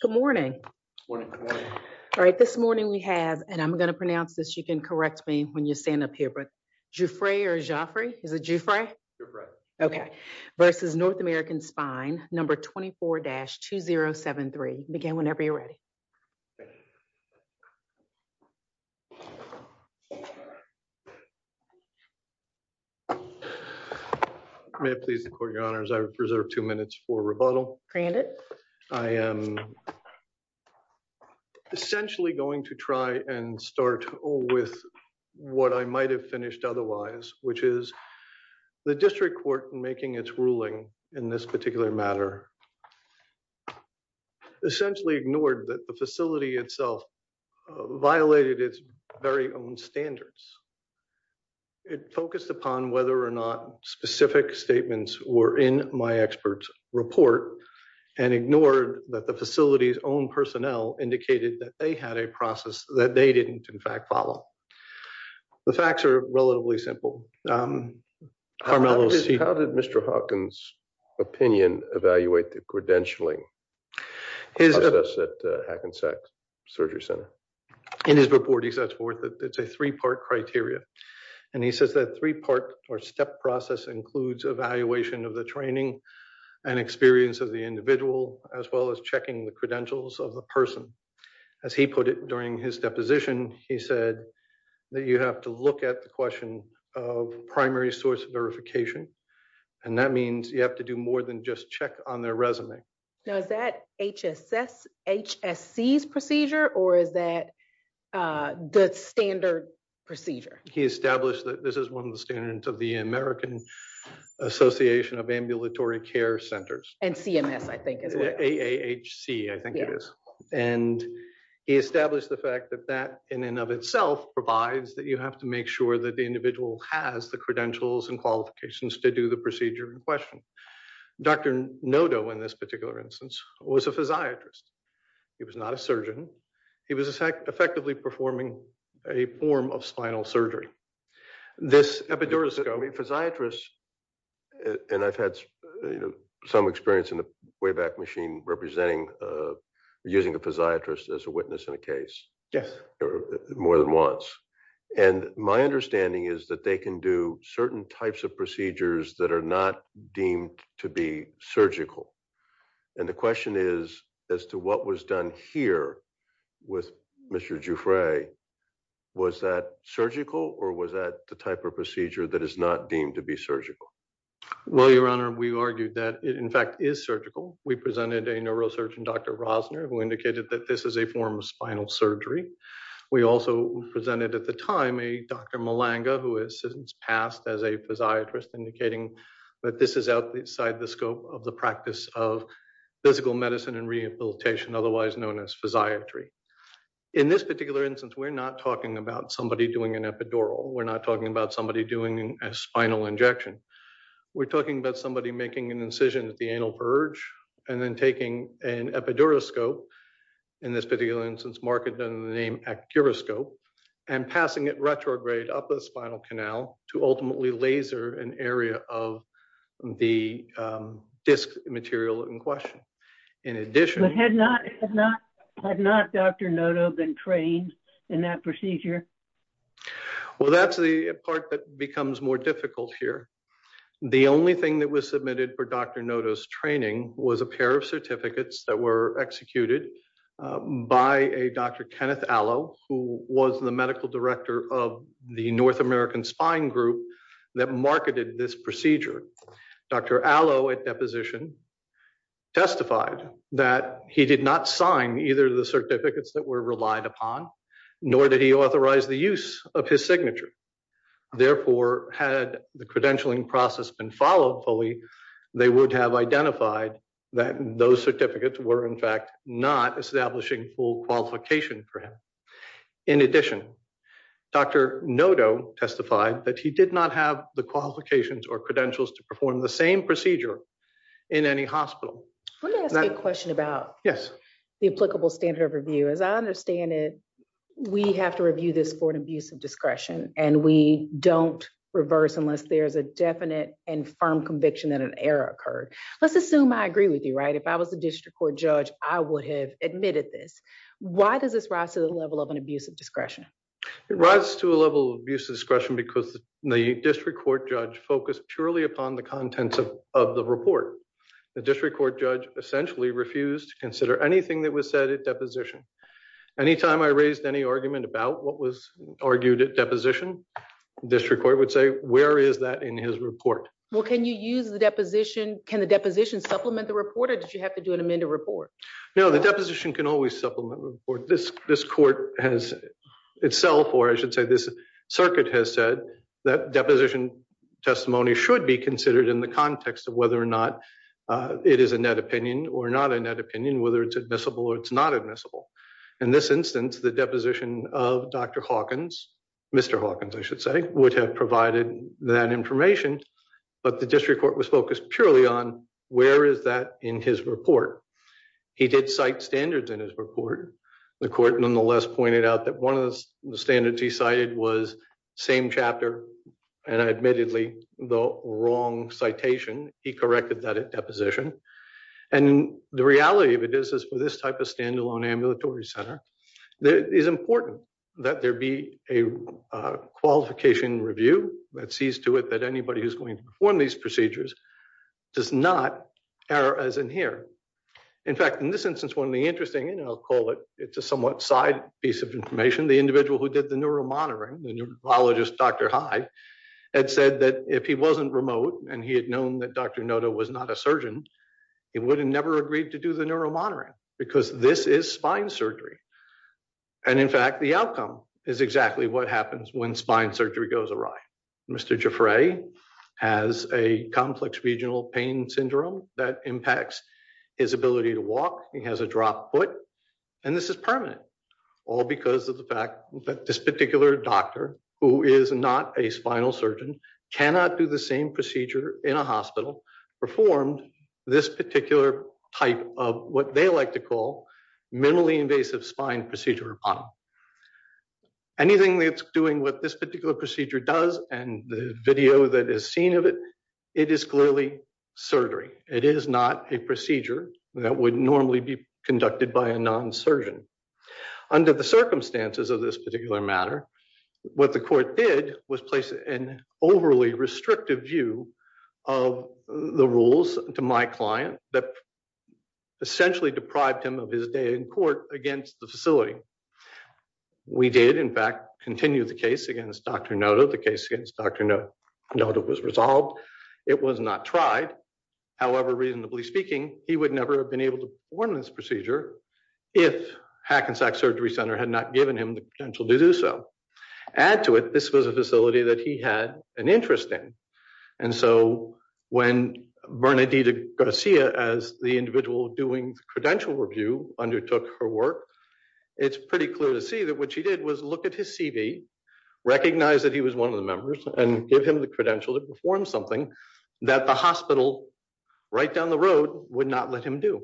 Good morning. All right. This morning we have and I'm going to pronounce this. You can correct me when you stand up here, but Juffre or Jaffrey is a Juffre. Okay. Versus North American Spine number 24-2073. Begin whenever you're ready. May I please record your honors. I reserve two minutes for rebuttal. I am essentially going to try and start with what I might have finished otherwise, which is the district court making its ruling in this particular matter essentially ignored that the facility itself violated its very own standards. It focused upon whether or not specific statements were in my expert's report and ignored that the facility's own personnel indicated that they had a process that they didn't in fact follow. The facts are relatively simple. How did Mr. Hawkins' opinion evaluate the credentialing process at Hackensack Surgery Center? In his report, he sets forth it's a three-part criteria and he says that three-part or step process includes evaluation of the training and experience of the individual as well as checking the credentials of the person. As he put it during his deposition, he said that you have to look at the question of primary source verification and that means you have to do more than just check on their resume. Now, is that HSC's procedure or is that the standard procedure? He established that this is one of the standards of the American Association of Ambulatory Care Centers. And CMS I think as well. AAHC, I think it is. And he established the fact that that in and of itself provides that you have to make sure that the individual has the credentials and qualifications to do the was a physiatrist. He was not a surgeon. He was effectively performing a form of spinal surgery. This epiduroscope... I mean, physiatrists, and I've had some experience in a way back machine representing using a physiatrist as a witness in a case. Yes. More than once. And my understanding is that they can do certain types of procedures that are not deemed to be surgical. And the question is, as to what was done here with Mr. Giuffre, was that surgical or was that the type of procedure that is not deemed to be surgical? Well, Your Honor, we argued that it in fact is surgical. We presented a neurosurgeon, Dr. Rosner, who indicated that this is a form of spinal surgery. We also presented at the time a Dr. Malanga, who has since passed as a physiatrist indicating that this is outside the scope of the practice of physical medicine and rehabilitation, otherwise known as physiatry. In this particular instance, we're not talking about somebody doing an epidural. We're not talking about somebody doing a spinal injection. We're talking about somebody making an incision at the anal verge and then taking an epiduroscope. In this particular instance, Mark had done the name gyroscope and passing it retrograde up the spinal canal to ultimately laser an area of the disc material in question. In addition- But had not Dr. Noto been trained in that procedure? Well, that's the part that becomes more difficult here. The only thing that was submitted for Dr. Noto's training was a pair of certificates that were executed by a Dr. Kenneth Allo, who was the medical director of the North American Spine Group that marketed this procedure. Dr. Allo at deposition testified that he did not sign either of the certificates that were relied upon, nor did he authorize the use of his signature. Therefore, had the credentialing process been followed fully, they would have identified that those certificates were, in fact, not establishing full qualification for him. In addition, Dr. Noto testified that he did not have the qualifications or credentials to perform the same procedure in any hospital. Let me ask a question about the applicable standard of review. As I understand it, we have to review this for an abuse of discretion, and we don't reverse unless there's a definite and firm conviction that an error occurred. Let's assume I agree with you, right? If I was a district court judge, I would have admitted this. Why does this rise to the level of an abuse of discretion? It rises to a level of abuse of discretion because the district court judge focused purely upon the contents of the report. The district court judge essentially refused to consider anything that was said at deposition. Anytime I raised any argument about what was argued at deposition, district court would say, where is that in his report? Well, can you use the deposition? Can the deposition supplement the report, or did you have to do an amended report? No, the deposition can always supplement the report. This court has itself, or I should say, this circuit has said that deposition testimony should be considered in the context of whether or not it is a net opinion or not a net opinion, whether it's admissible or it's not admissible. In this instance, the deposition of Dr. Hawkins, Mr. Hawkins, I should say, would have provided that information, but the district court was focused purely on where is that in his report. He did cite standards in his report. The court nonetheless pointed out that one of the standards he cited was same chapter and admittedly the wrong citation. He corrected that at deposition. And the reality of it is, is for this type of standalone ambulatory center, it is important that there be a qualification review that sees to it that anybody who's going to perform these procedures does not err as in here. In fact, in this instance, one of the interesting, and I'll call it, it's a somewhat side piece of information, the individual who did the neuromonitoring, the neurologist, Dr. Hyde, had said that if he wasn't a surgeon, he would have never agreed to do the neuromonitoring because this is spine surgery. And in fact, the outcome is exactly what happens when spine surgery goes awry. Mr. Giffray has a complex regional pain syndrome that impacts his ability to walk. He has a dropped foot, and this is permanent all because of the fact that this particular doctor who is not a spinal procedure in a hospital performed this particular type of what they like to call minimally invasive spine procedure upon him. Anything that's doing what this particular procedure does and the video that is seen of it, it is clearly surgery. It is not a procedure that would normally be conducted by a non-surgeon. Under the circumstances of this particular matter, what the court did was place an overly restrictive view of the rules to my client that essentially deprived him of his day in court against the facility. We did, in fact, continue the case against Dr. Noda. The case against Dr. Noda was resolved. It was not tried. However, reasonably speaking, he would never have been able to perform this procedure if Hackensack Surgery Center had not given him the potential to do so. Add to it, this was a facility that he had an interest in. When Bernadita Garcia, as the individual doing the credential review, undertook her work, it's pretty clear to see that what she did was look at his CV, recognize that he was one of the members, and give him the credential to perform something that the hospital right down the road would not let him do.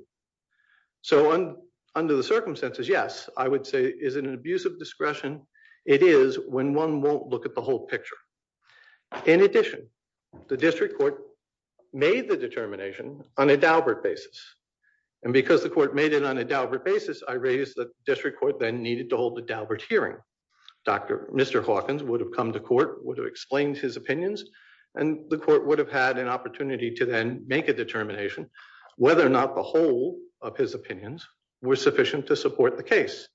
Under the circumstances, yes, I would say it is an abuse of discretion. It is when one won't look at the whole picture. In addition, the district court made the determination on a Daubert basis. Because the court made it on a Daubert basis, I raised that the district court then needed to hold a Daubert hearing. Mr. Hawkins would have come to court, would have explained his opinions, and the court would have had an opportunity to then make a determination whether or not the whole of his opinions were sufficient to support the case.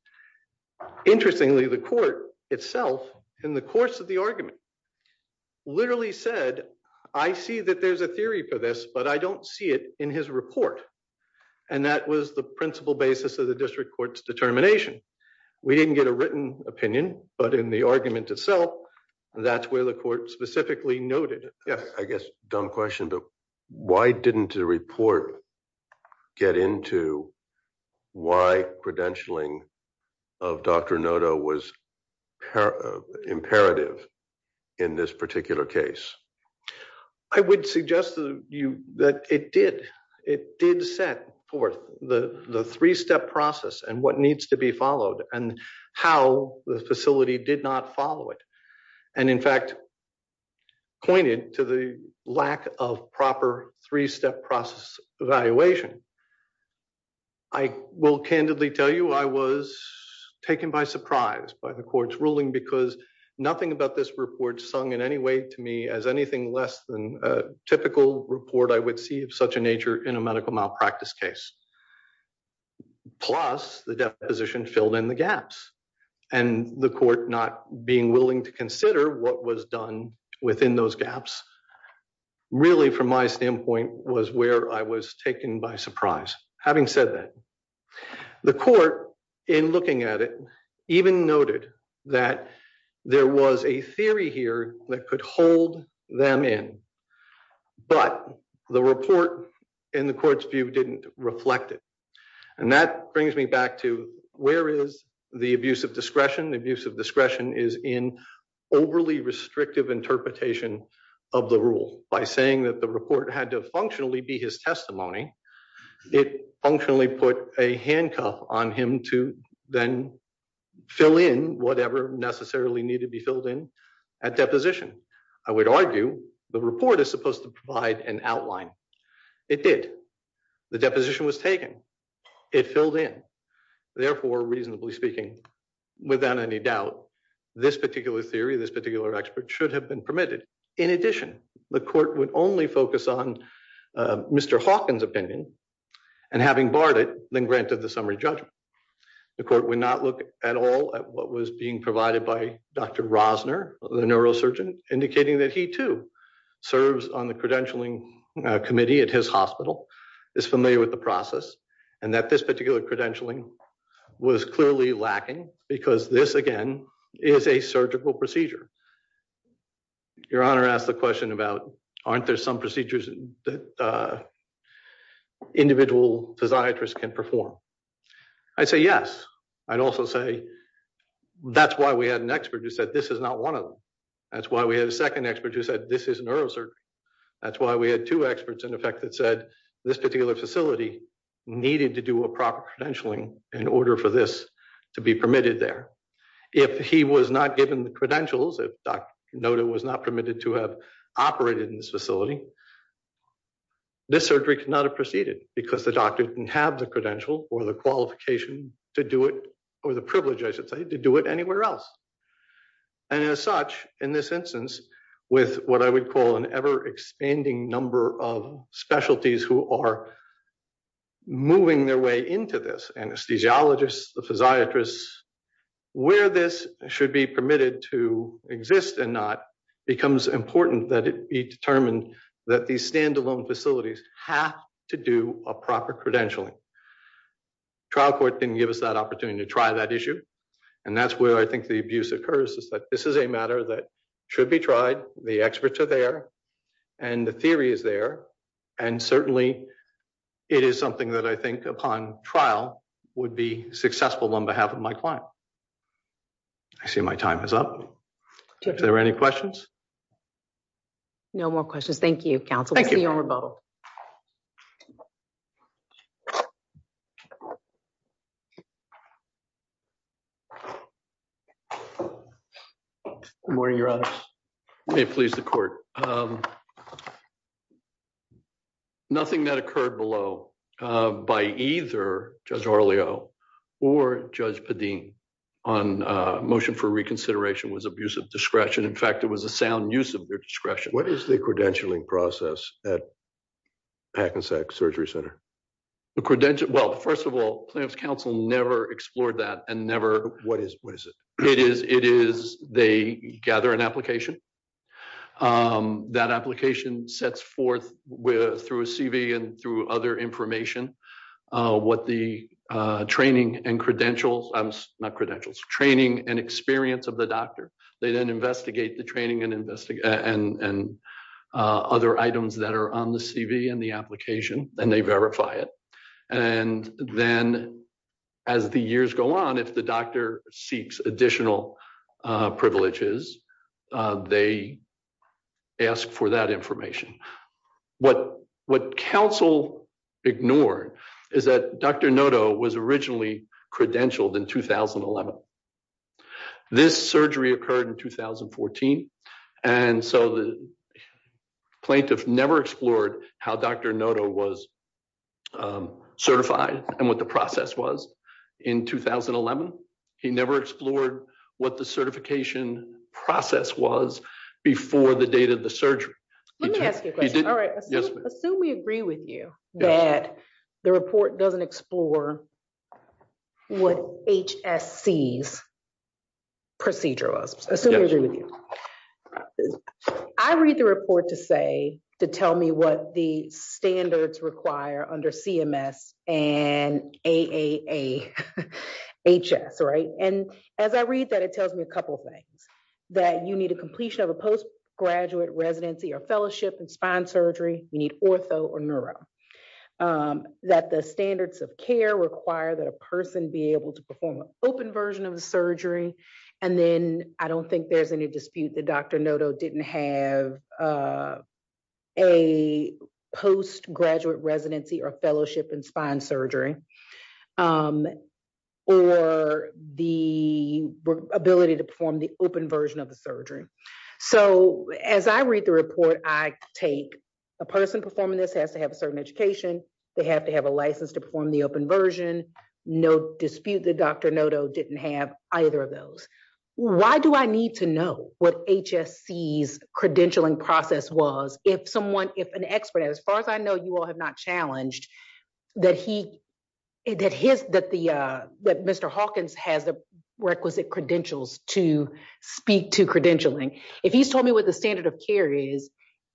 Interestingly, the court itself, in the course of the argument, literally said, I see that there's a theory for this, but I don't see it in his report. And that was the principal basis of the district court's determination. We didn't get a written opinion, but in the argument itself, that's where the noted. Yes. I guess, dumb question, but why didn't the report get into why credentialing of Dr. Noto was imperative in this particular case? I would suggest that it did. It did set forth the three-step process and what needs to be followed and how the facility did not follow it. And in fact, pointed to the lack of proper three-step process evaluation. I will candidly tell you, I was taken by surprise by the court's ruling because nothing about this report sung in any way to me as anything less than a typical report I would see of such a nature in a medical malpractice case. Plus the deposition filled in the gaps and the court not being willing to consider what was done within those gaps really from my standpoint was where I was taken by surprise. Having said that, the court in looking at it even noted that there was a theory here that could hold them in, but the report in the court's view didn't reflect it. And that brings me back to where is the abuse of discretion? Abuse of discretion is in overly restrictive interpretation of the rule by saying that the report had to functionally be his testimony. It functionally put a handcuff on him to then fill in whatever necessarily needed to be filled in at deposition. I would argue the report is supposed to provide an outline. It did. The deposition was taken. It filled in. Therefore, reasonably speaking, without any doubt, this particular theory, this particular expert should have been permitted. In addition, the court would only focus on Mr. Hawkins' opinion and having barred it, then granted the summary judgment. The court would not look at all at what was being provided by Dr. Rosner, the neurosurgeon, indicating that he, too, serves on the credentialing committee at his hospital, is familiar with the process, and that this particular credentialing was clearly lacking because this, again, is a surgical procedure. Your Honor asked the question about aren't there some procedures that individual physiatrists can perform? I'd say yes. I'd also say that's why we had an expert who said this is not one of them. That's why we had a second expert who said this is neurosurgery. That's why we had two experts, in effect, that said this particular facility needed to do a proper credentialing in order for this to be permitted there. If he was not given the credentials, if Dr. Noda was not permitted to have operated in this facility, this surgery could not have proceeded because the doctor didn't have the credential or the qualification to do it, or the privilege, I should say, to do it anywhere else. As such, in this instance, with what I would call an ever-expanding number of specialties who are moving their way into this, anesthesiologists, the physiatrists, where this should be permitted to exist and not becomes important that it be determined that these standalone facilities have to do a proper credentialing. Trial court didn't give us that opportunity to try that issue, and that's where I think the abuse occurs is that this is a matter that should be tried. The experts are there, and the theory is there, and certainly it is something that I think upon trial would be successful on behalf of my client. I see my time is up. Is there any questions? No more questions. Thank you, counsel. Thank you. Good morning, Your Honor. May it please the court. Nothing that occurred below by either Judge Orleo or Judge Padin on motion for reconsideration was abuse of discretion. In fact, it was a sound use of their discretion. What is the credentialing process at Packensack Surgery Center? Well, first of all, plaintiff's counsel never explored that. What is it? It is they gather an application. That application sets forth through a CV and through other information what the training and credentials, not credentials, training and the doctor. They then investigate the training and other items that are on the CV and the application, and they verify it. And then as the years go on, if the doctor seeks additional privileges, they ask for that information. What counsel ignored is that Dr. Noto was originally credentialed in 2011. This surgery occurred in 2014, and so the plaintiff never explored how Dr. Noto was certified and what the process was in 2011. He never explored what the certification process was before the date of the surgery. Let me ask you a question. All right. Yes. Assume we agree with you that the report doesn't explore what HSC's procedure was. I read the report to say, to tell me what the standards require under CMS and AAHS, right? And as I read that, it tells me a couple of things that you need a completion of a postgraduate residency or fellowship in spine surgery. You need ortho or neuro. That the standards of care require that a person be able to perform an open version of the surgery. And then I don't think there's any dispute that Dr. Noto didn't have a postgraduate residency or fellowship in spine surgery. So as I read the report, I take a person performing this has to have a certain education. They have to have a license to perform the open version. No dispute that Dr. Noto didn't have either of those. Why do I need to know what HSC's credentialing process was? If someone, if an expert, as far as I know, you all have not challenged that he, that his, that the, that Mr. Hawkins has the requisite credentials to speak to credentialing. If he's told me what the standard of care is,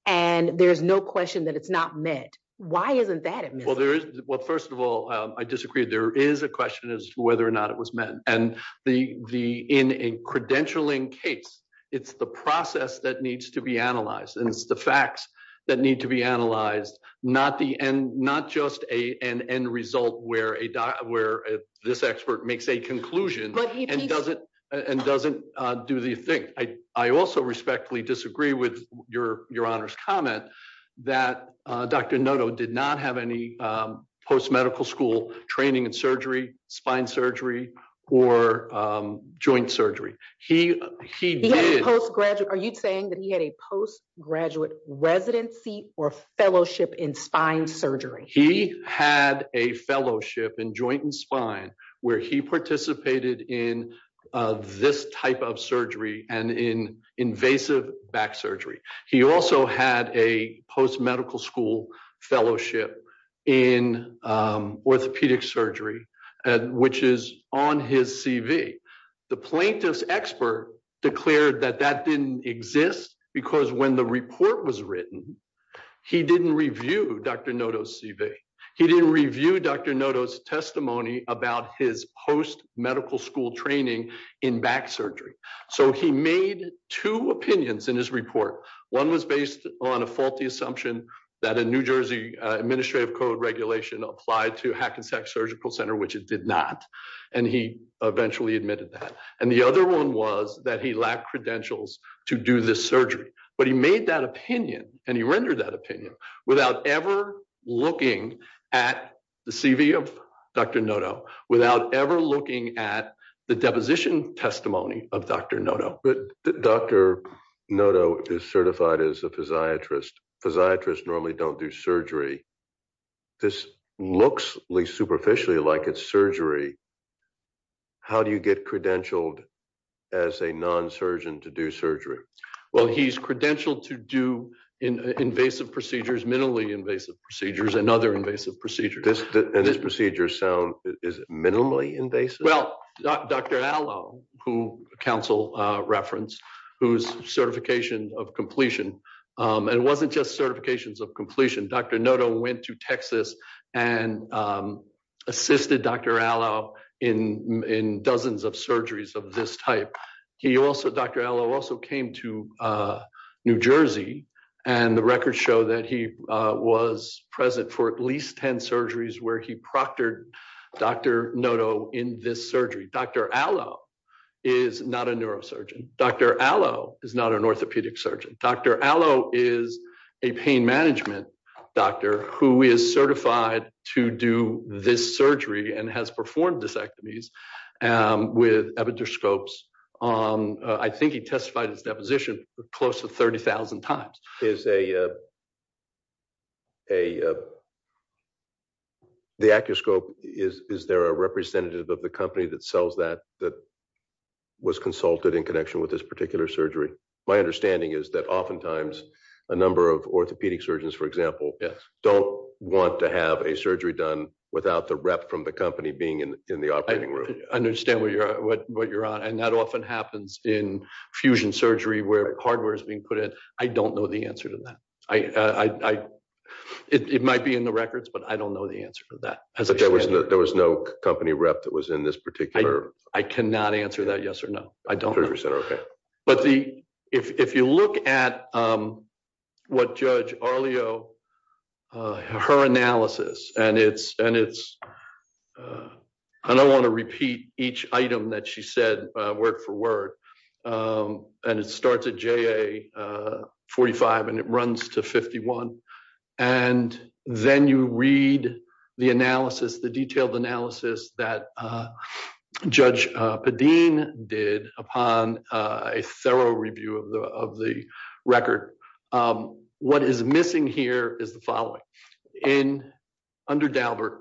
and there's no question that it's not met, why isn't that admitted? Well, there is, well, first of all, I disagree. There is a question as to whether or not it was met. And the, the, in a credentialing case, it's the process that needs to be analyzed. And it's facts that need to be analyzed, not the end, not just a, an end result where a doc, where this expert makes a conclusion and doesn't, and doesn't do the thing. I, I also respectfully disagree with your, your honor's comment that Dr. Noto did not have any post-medical school training in surgery, spine surgery, or joint surgery. He, he did. He had a postgraduate, are you saying that he had a postgraduate residency or fellowship in spine surgery? He had a fellowship in joint and spine where he participated in this type of surgery and in invasive back surgery. He also had a post-medical school fellowship in orthopedic surgery, which is on his CV. The plaintiff's expert declared that that didn't exist because when the report was written, he didn't review Dr. Noto's CV. He didn't review Dr. Noto's testimony about his post-medical school training in back surgery. So he made two opinions in his report. One was based on a faulty assumption that a New Jersey administrative code regulation applied to Hackensack Surgical Center, which it did not. And he eventually admitted that. And the other one was that he lacked credentials to do this surgery, but he made that opinion and he rendered that opinion without ever looking at the CV of Dr. Noto, without ever looking at the deposition testimony of Dr. Noto. But Dr. Noto is certified as a physiatrist. Physiatrists normally don't do surgery. This looks, at least superficially, like it's surgery. How do you get credentialed as a non-surgeon to do surgery? Well, he's credentialed to do invasive procedures, minimally invasive procedures, and other invasive procedures. And this procedure is minimally invasive? Well, Dr. Allo, who counsel referenced, who's certification of completion. And it wasn't just certifications of completion. Dr. Noto went to Texas and assisted Dr. Allo in dozens of surgeries of this type. Dr. Allo also came to New Jersey and the records show that he was present for at least 10 surgeries where he proctored Dr. Noto in this surgery. Dr. Allo is not a neurosurgeon. Dr. Allo is not an orthopedic surgeon. Dr. Allo is a pain management doctor who is certified to do this surgery and has performed disectomies with epitoscopes. I think he testified his position close to 30,000 times. Is there a representative of the company that sells that that was consulted in connection with this particular surgery? My understanding is that oftentimes a number of orthopedic surgeons, for example, don't want to have a surgery done without the rep from the company being in the operating room. I understand what you're on. And that often happens in fusion surgery where hardware is being put in. I don't know the answer to that. It might be in the records, but I don't know the answer to that. But there was no company rep that was in this particular... I cannot answer that yes or no. I don't know. But if you look at what Judge Arlio, her analysis, and it's... I don't want to repeat each item that she said word for word. And it starts at JA45 and it runs to 51. And then you read the analysis, the detailed analysis that Judge Padeen did upon a thorough review of the record. What is missing here is the following. Under Dalbert,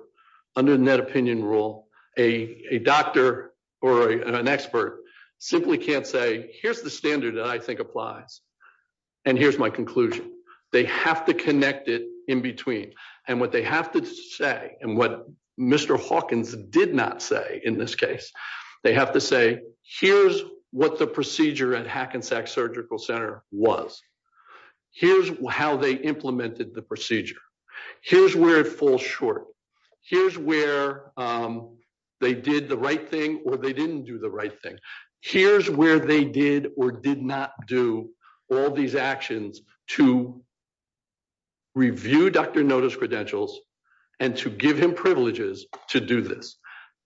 under the net opinion rule, a doctor or an expert simply can't say, here's the standard that I think applies. And here's my conclusion. They have to connect it in between. And what they have to say, and what Mr. Hawkins did not say in this case, they have to say, here's what the procedure at Hackensack Surgical Center was. Here's how they implemented the procedure. Here's where it falls short. Here's where they did the right thing or they didn't do the right thing. Here's where they or did not do all these actions to review doctor notice credentials and to give him privileges to do this.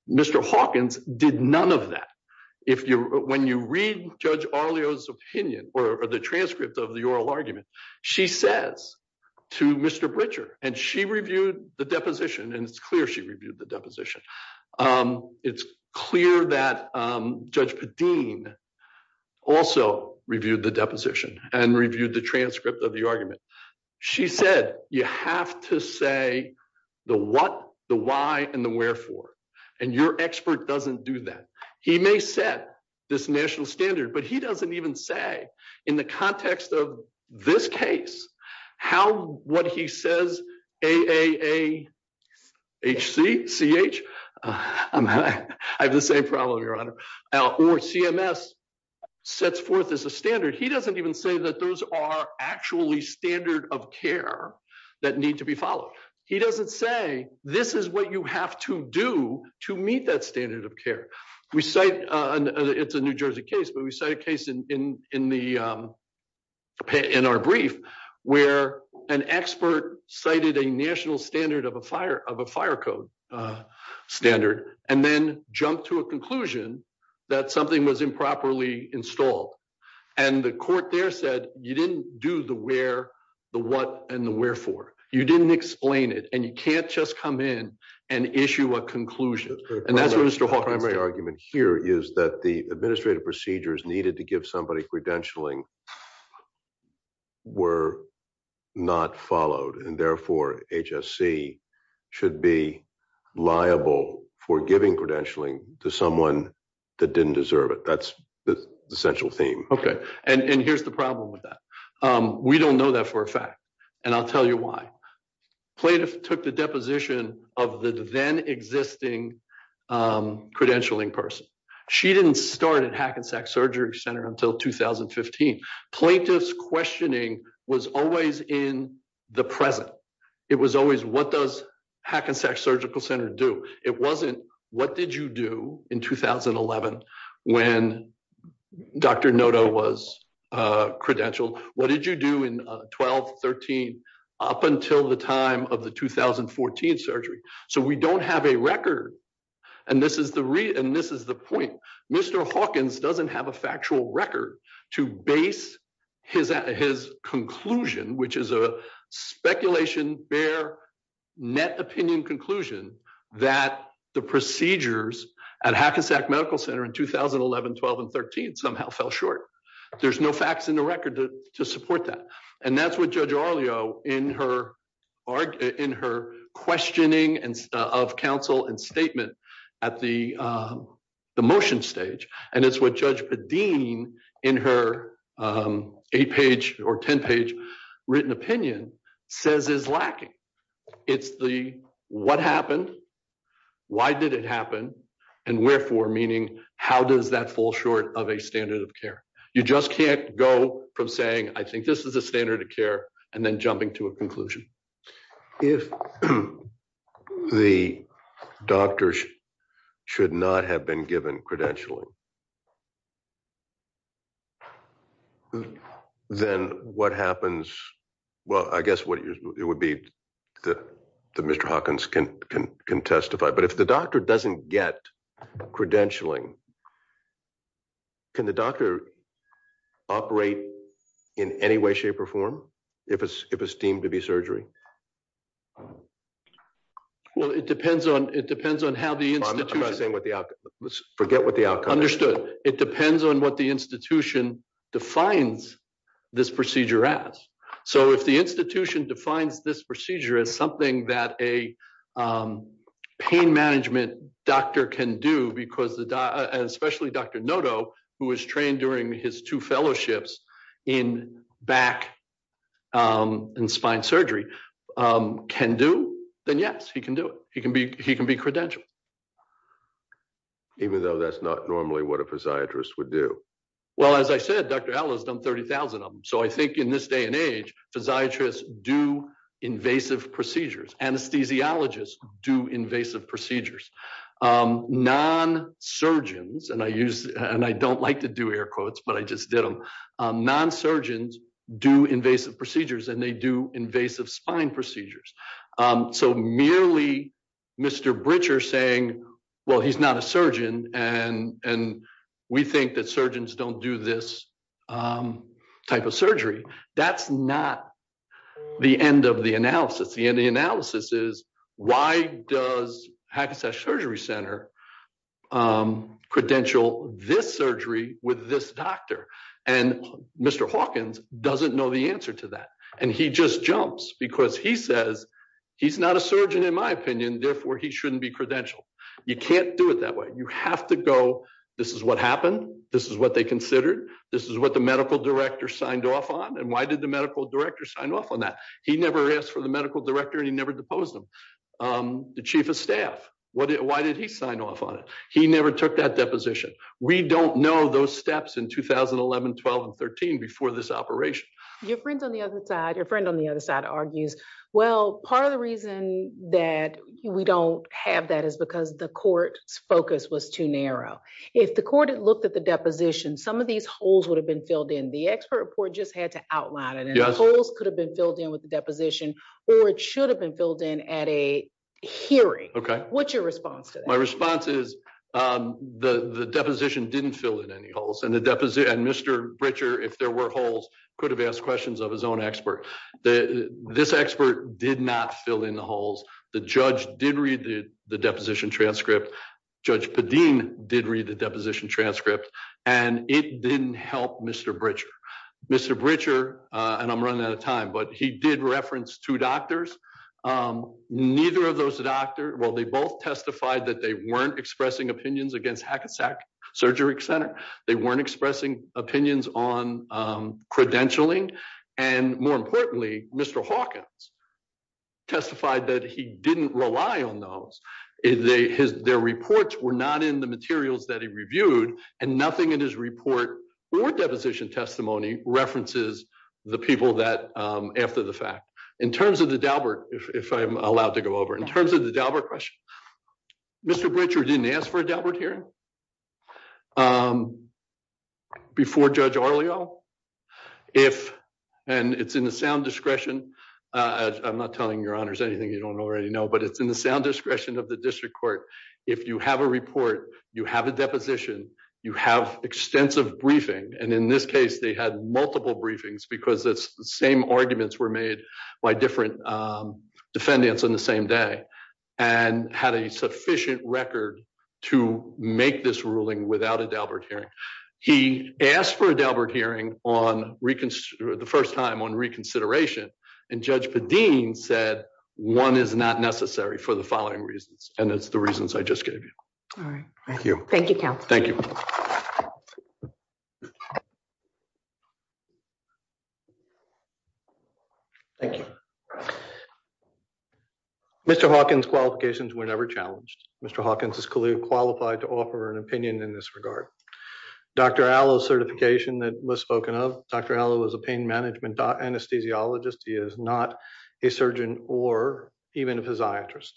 Mr. Hawkins did none of that. When you read Judge Arlio's opinion or the transcript of the oral argument, she says to Mr. Britcher, and she reviewed the deposition, and it's clear she reviewed the deposition. It's clear that Judge Padeen also reviewed the deposition and reviewed the transcript of the argument. She said, you have to say the what, the why, and the wherefore. And your expert doesn't do that. He may set this national standard, but he doesn't even say in the context of this case, how what he says, A-A-A-H-C-C-H, I have the same problem, your honor, or CMS sets forth as a standard. He doesn't even say that those are actually standard of care that need to be followed. He doesn't say this is what you have to do to meet that standard of care. We cite, it's a New Jersey case, but we cite a case in our brief where an expert cited a national standard of a fire code standard and then jumped to a conclusion that something was improperly installed. And the court there said, you didn't do the where, the what, and the wherefore. You didn't explain it, and you can't just come in and issue a conclusion. And that's where Mr. Hawking's argument here is that the administrative procedures needed to give somebody credentialing were not followed. And therefore, HSC should be liable for giving credentialing to someone that didn't deserve it. That's the central theme. Okay. And here's the problem with that. We don't know that for a fact, and I'll tell you why. Plaintiff took the deposition of the then existing credentialing person. She didn't start at Hackensack Surgery Center until 2015. Plaintiff's questioning was always in the present. It was always, what does Hackensack Surgical Center do? It wasn't, what did you do in 2011 when Dr. Noto was credentialed? What did you do in 12, 13, up until the time of the 2014 surgery? So we don't have a record. And this is the point. Mr. Hawkins doesn't have a factual record to base his conclusion, which is a speculation, bare, net opinion conclusion that the procedures at Hackensack Medical Center in 2011, 12, and 13 somehow fell short. There's no facts in the record to support that. And that's what Judge Aurelio in her questioning of counsel and statement at the motion stage. And it's what Judge Padin in her eight page or 10 page written opinion says is lacking. It's the, what happened? Why did it happen? And wherefore, meaning how does that fall short of a standard of care? You just can't go from saying, I think this is a standard of care and then jumping to a conclusion. If the doctors should not have been given credentialing, then what happens? Well, I guess what it would be that Mr. Hawkins can testify, but if the doctor doesn't get credentialing, can the doctor operate in any way, shape, or form if it's deemed to be it depends on what the institution defines this procedure as. So if the institution defines this procedure as something that a pain management doctor can do, because especially Dr. Noto, who was trained during his two fellowships in back and spine surgery, can do, then yes, he can be credentialed. Even though that's not normally what a physiatrist would do. Well, as I said, Dr. L has done 30,000 of them. So I think in this day and age, physiatrists do invasive procedures. Anesthesiologists do invasive procedures. Non-surgeons, and I don't like to do air quotes, but I just did them. Non-surgeons do invasive procedures and they do invasive spine procedures. So merely Mr. Britcher saying, well, he's not a surgeon and we think that surgeons don't do this type of surgery. That's not the end of the analysis. The end of the analysis is why does Hackensack Surgery Center credential this surgery with this doctor? And Mr. Hawkins doesn't know the answer to that. And he just jumps because he says, he's not a surgeon in my opinion, therefore he shouldn't be credentialed. You can't do it that way. You have to go, this is what happened. This is what they considered. This is what the medical director signed off on. And why did the medical director sign off on that? He never asked for the medical director and he never deposed them. The chief of staff, why did he sign off on it? He never took that deposition. We don't know those steps in 2011, 12, and 13 before this operation. Your friend on the other side, your friend on the other side argues, well, part of the reason that we don't have that is because the court's focus was too narrow. If the court had looked at the deposition, some of these holes would have been filled in. The expert report just had to outline it and the holes could have been filled in with the deposition or it should have filled in at a hearing. What's your response to that? My response is the deposition didn't fill in any holes and Mr. Britcher, if there were holes, could have asked questions of his own expert. This expert did not fill in the holes. The judge did read the deposition transcript. Judge Padin did read the deposition transcript and it didn't help Mr. Britcher. Mr. Britcher, and I'm running out of time, but he did reference two doctors. Neither of those doctors, well, they both testified that they weren't expressing opinions against Hackensack Surgery Center. They weren't expressing opinions on credentialing and more importantly, Mr. Hawkins testified that he didn't rely on those. Their reports were not in the materials that he reviewed and nothing in his report or deposition testimony references the people after the fact. In terms of the Daubert, if I'm allowed to go over, in terms of the Daubert question, Mr. Britcher didn't ask for a Daubert hearing before Judge Arleo. It's in the sound discretion, I'm not telling your honors anything you don't already know, but it's in the sound discretion of the district court. If you have a report, you have a deposition, you have extensive briefing, and in this case, they had multiple briefings because the same arguments were made by different defendants on the same day and had a sufficient record to make this ruling without a Daubert hearing. He asked for a Daubert hearing the first time on reconsideration and Judge Padin said one is not necessary for the counsel. Thank you. Mr. Hawkins' qualifications were never challenged. Mr. Hawkins is clearly qualified to offer an opinion in this regard. Dr. Allo's certification that was spoken of, Dr. Allo is a pain management anesthesiologist, he is not a surgeon or even a physiatrist,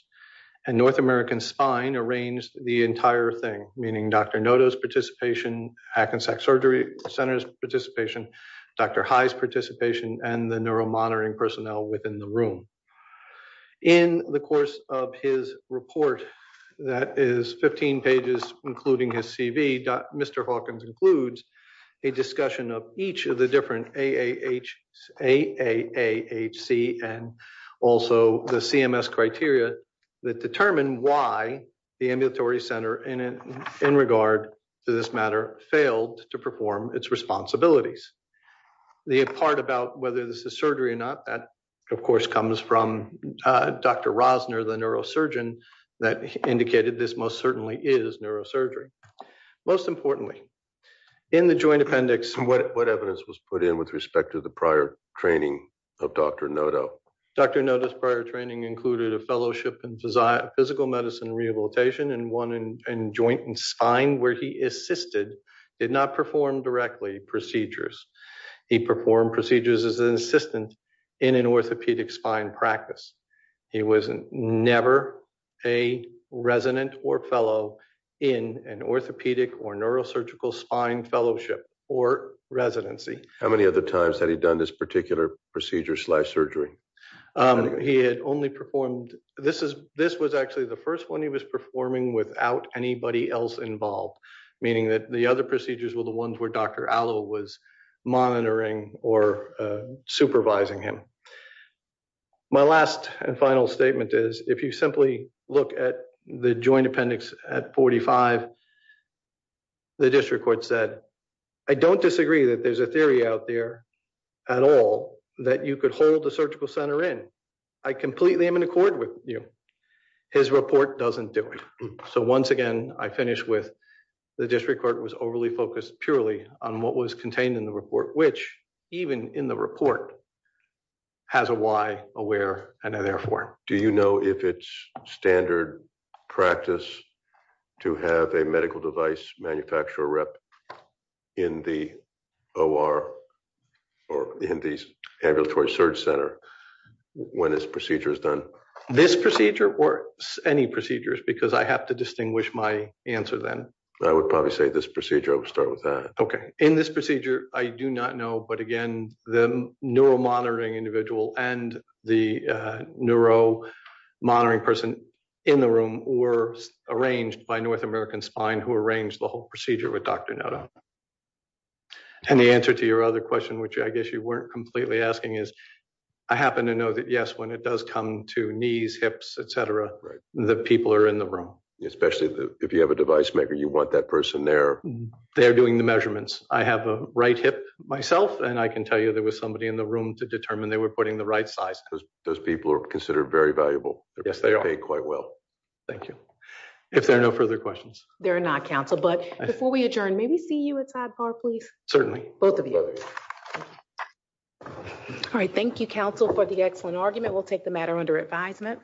and North American Spine arranged the entire thing, meaning Dr. Noto's participation, Hackensack Surgery Center's participation, Dr. High's participation, and the neuromonitoring personnel within the room. In the course of his report, that is 15 pages including his CV, Mr. Hawkins includes a discussion of each of the different AAHC and also the CMS criteria that determine why the ambulatory center in regard to this matter failed to perform its responsibilities. The part about whether this is surgery or not, that of course comes from Dr. Rosner, the neurosurgeon that indicated this most certainly is neurosurgery. Most importantly, in the joint appendix, what evidence was put in with respect to the prior training of Dr. Noto? Dr. Noto's prior training included a fellowship in physical medicine rehabilitation and one in joint and spine where he assisted, did not perform directly procedures. He performed procedures as an assistant in an orthopedic spine practice. He was never a resident or fellow in an orthopedic or neurosurgical spine fellowship or residency. How many other times had he done this particular procedure slash surgery? He had only performed, this was actually the first one he was performing without anybody else involved, meaning that the other procedures were the ones where Dr. Allo was monitoring or supervising him. My last and final statement is, if you simply look at the joint appendix at 45, the district court said, I don't disagree that there's a surgery out there at all that you could hold a surgical center in. I completely am in accord with you. His report doesn't do it. So once again, I finish with the district court was overly focused purely on what was contained in the report, which even in the report has a why, a where, and a therefore. Do you know if it's standard practice to have a medical device manufacturer rep in the OR or in these ambulatory surge center when this procedure is done? This procedure or any procedures because I have to distinguish my answer then. I would probably say this procedure. I'll start with that. Okay. In this procedure, I do not know. But again, the neuromonitoring individual and the neuromonitoring person in the room were arranged by North American Spine who arranged the whole procedure. And the answer to your other question, which I guess you weren't completely asking is, I happen to know that yes, when it does come to knees, hips, et cetera, the people are in the room. Especially if you have a device maker, you want that person there. They're doing the measurements. I have a right hip myself and I can tell you there was somebody in the room to determine they were putting the right size. Those people are considered very valuable. Yes, they are. They pay quite well. Thank you. If there are no further questions. They're not counsel, but before we adjourn, maybe see you at sidebar, please. Certainly both of you. All right. Thank you counsel for the excellent argument. We'll take the matter under advisement.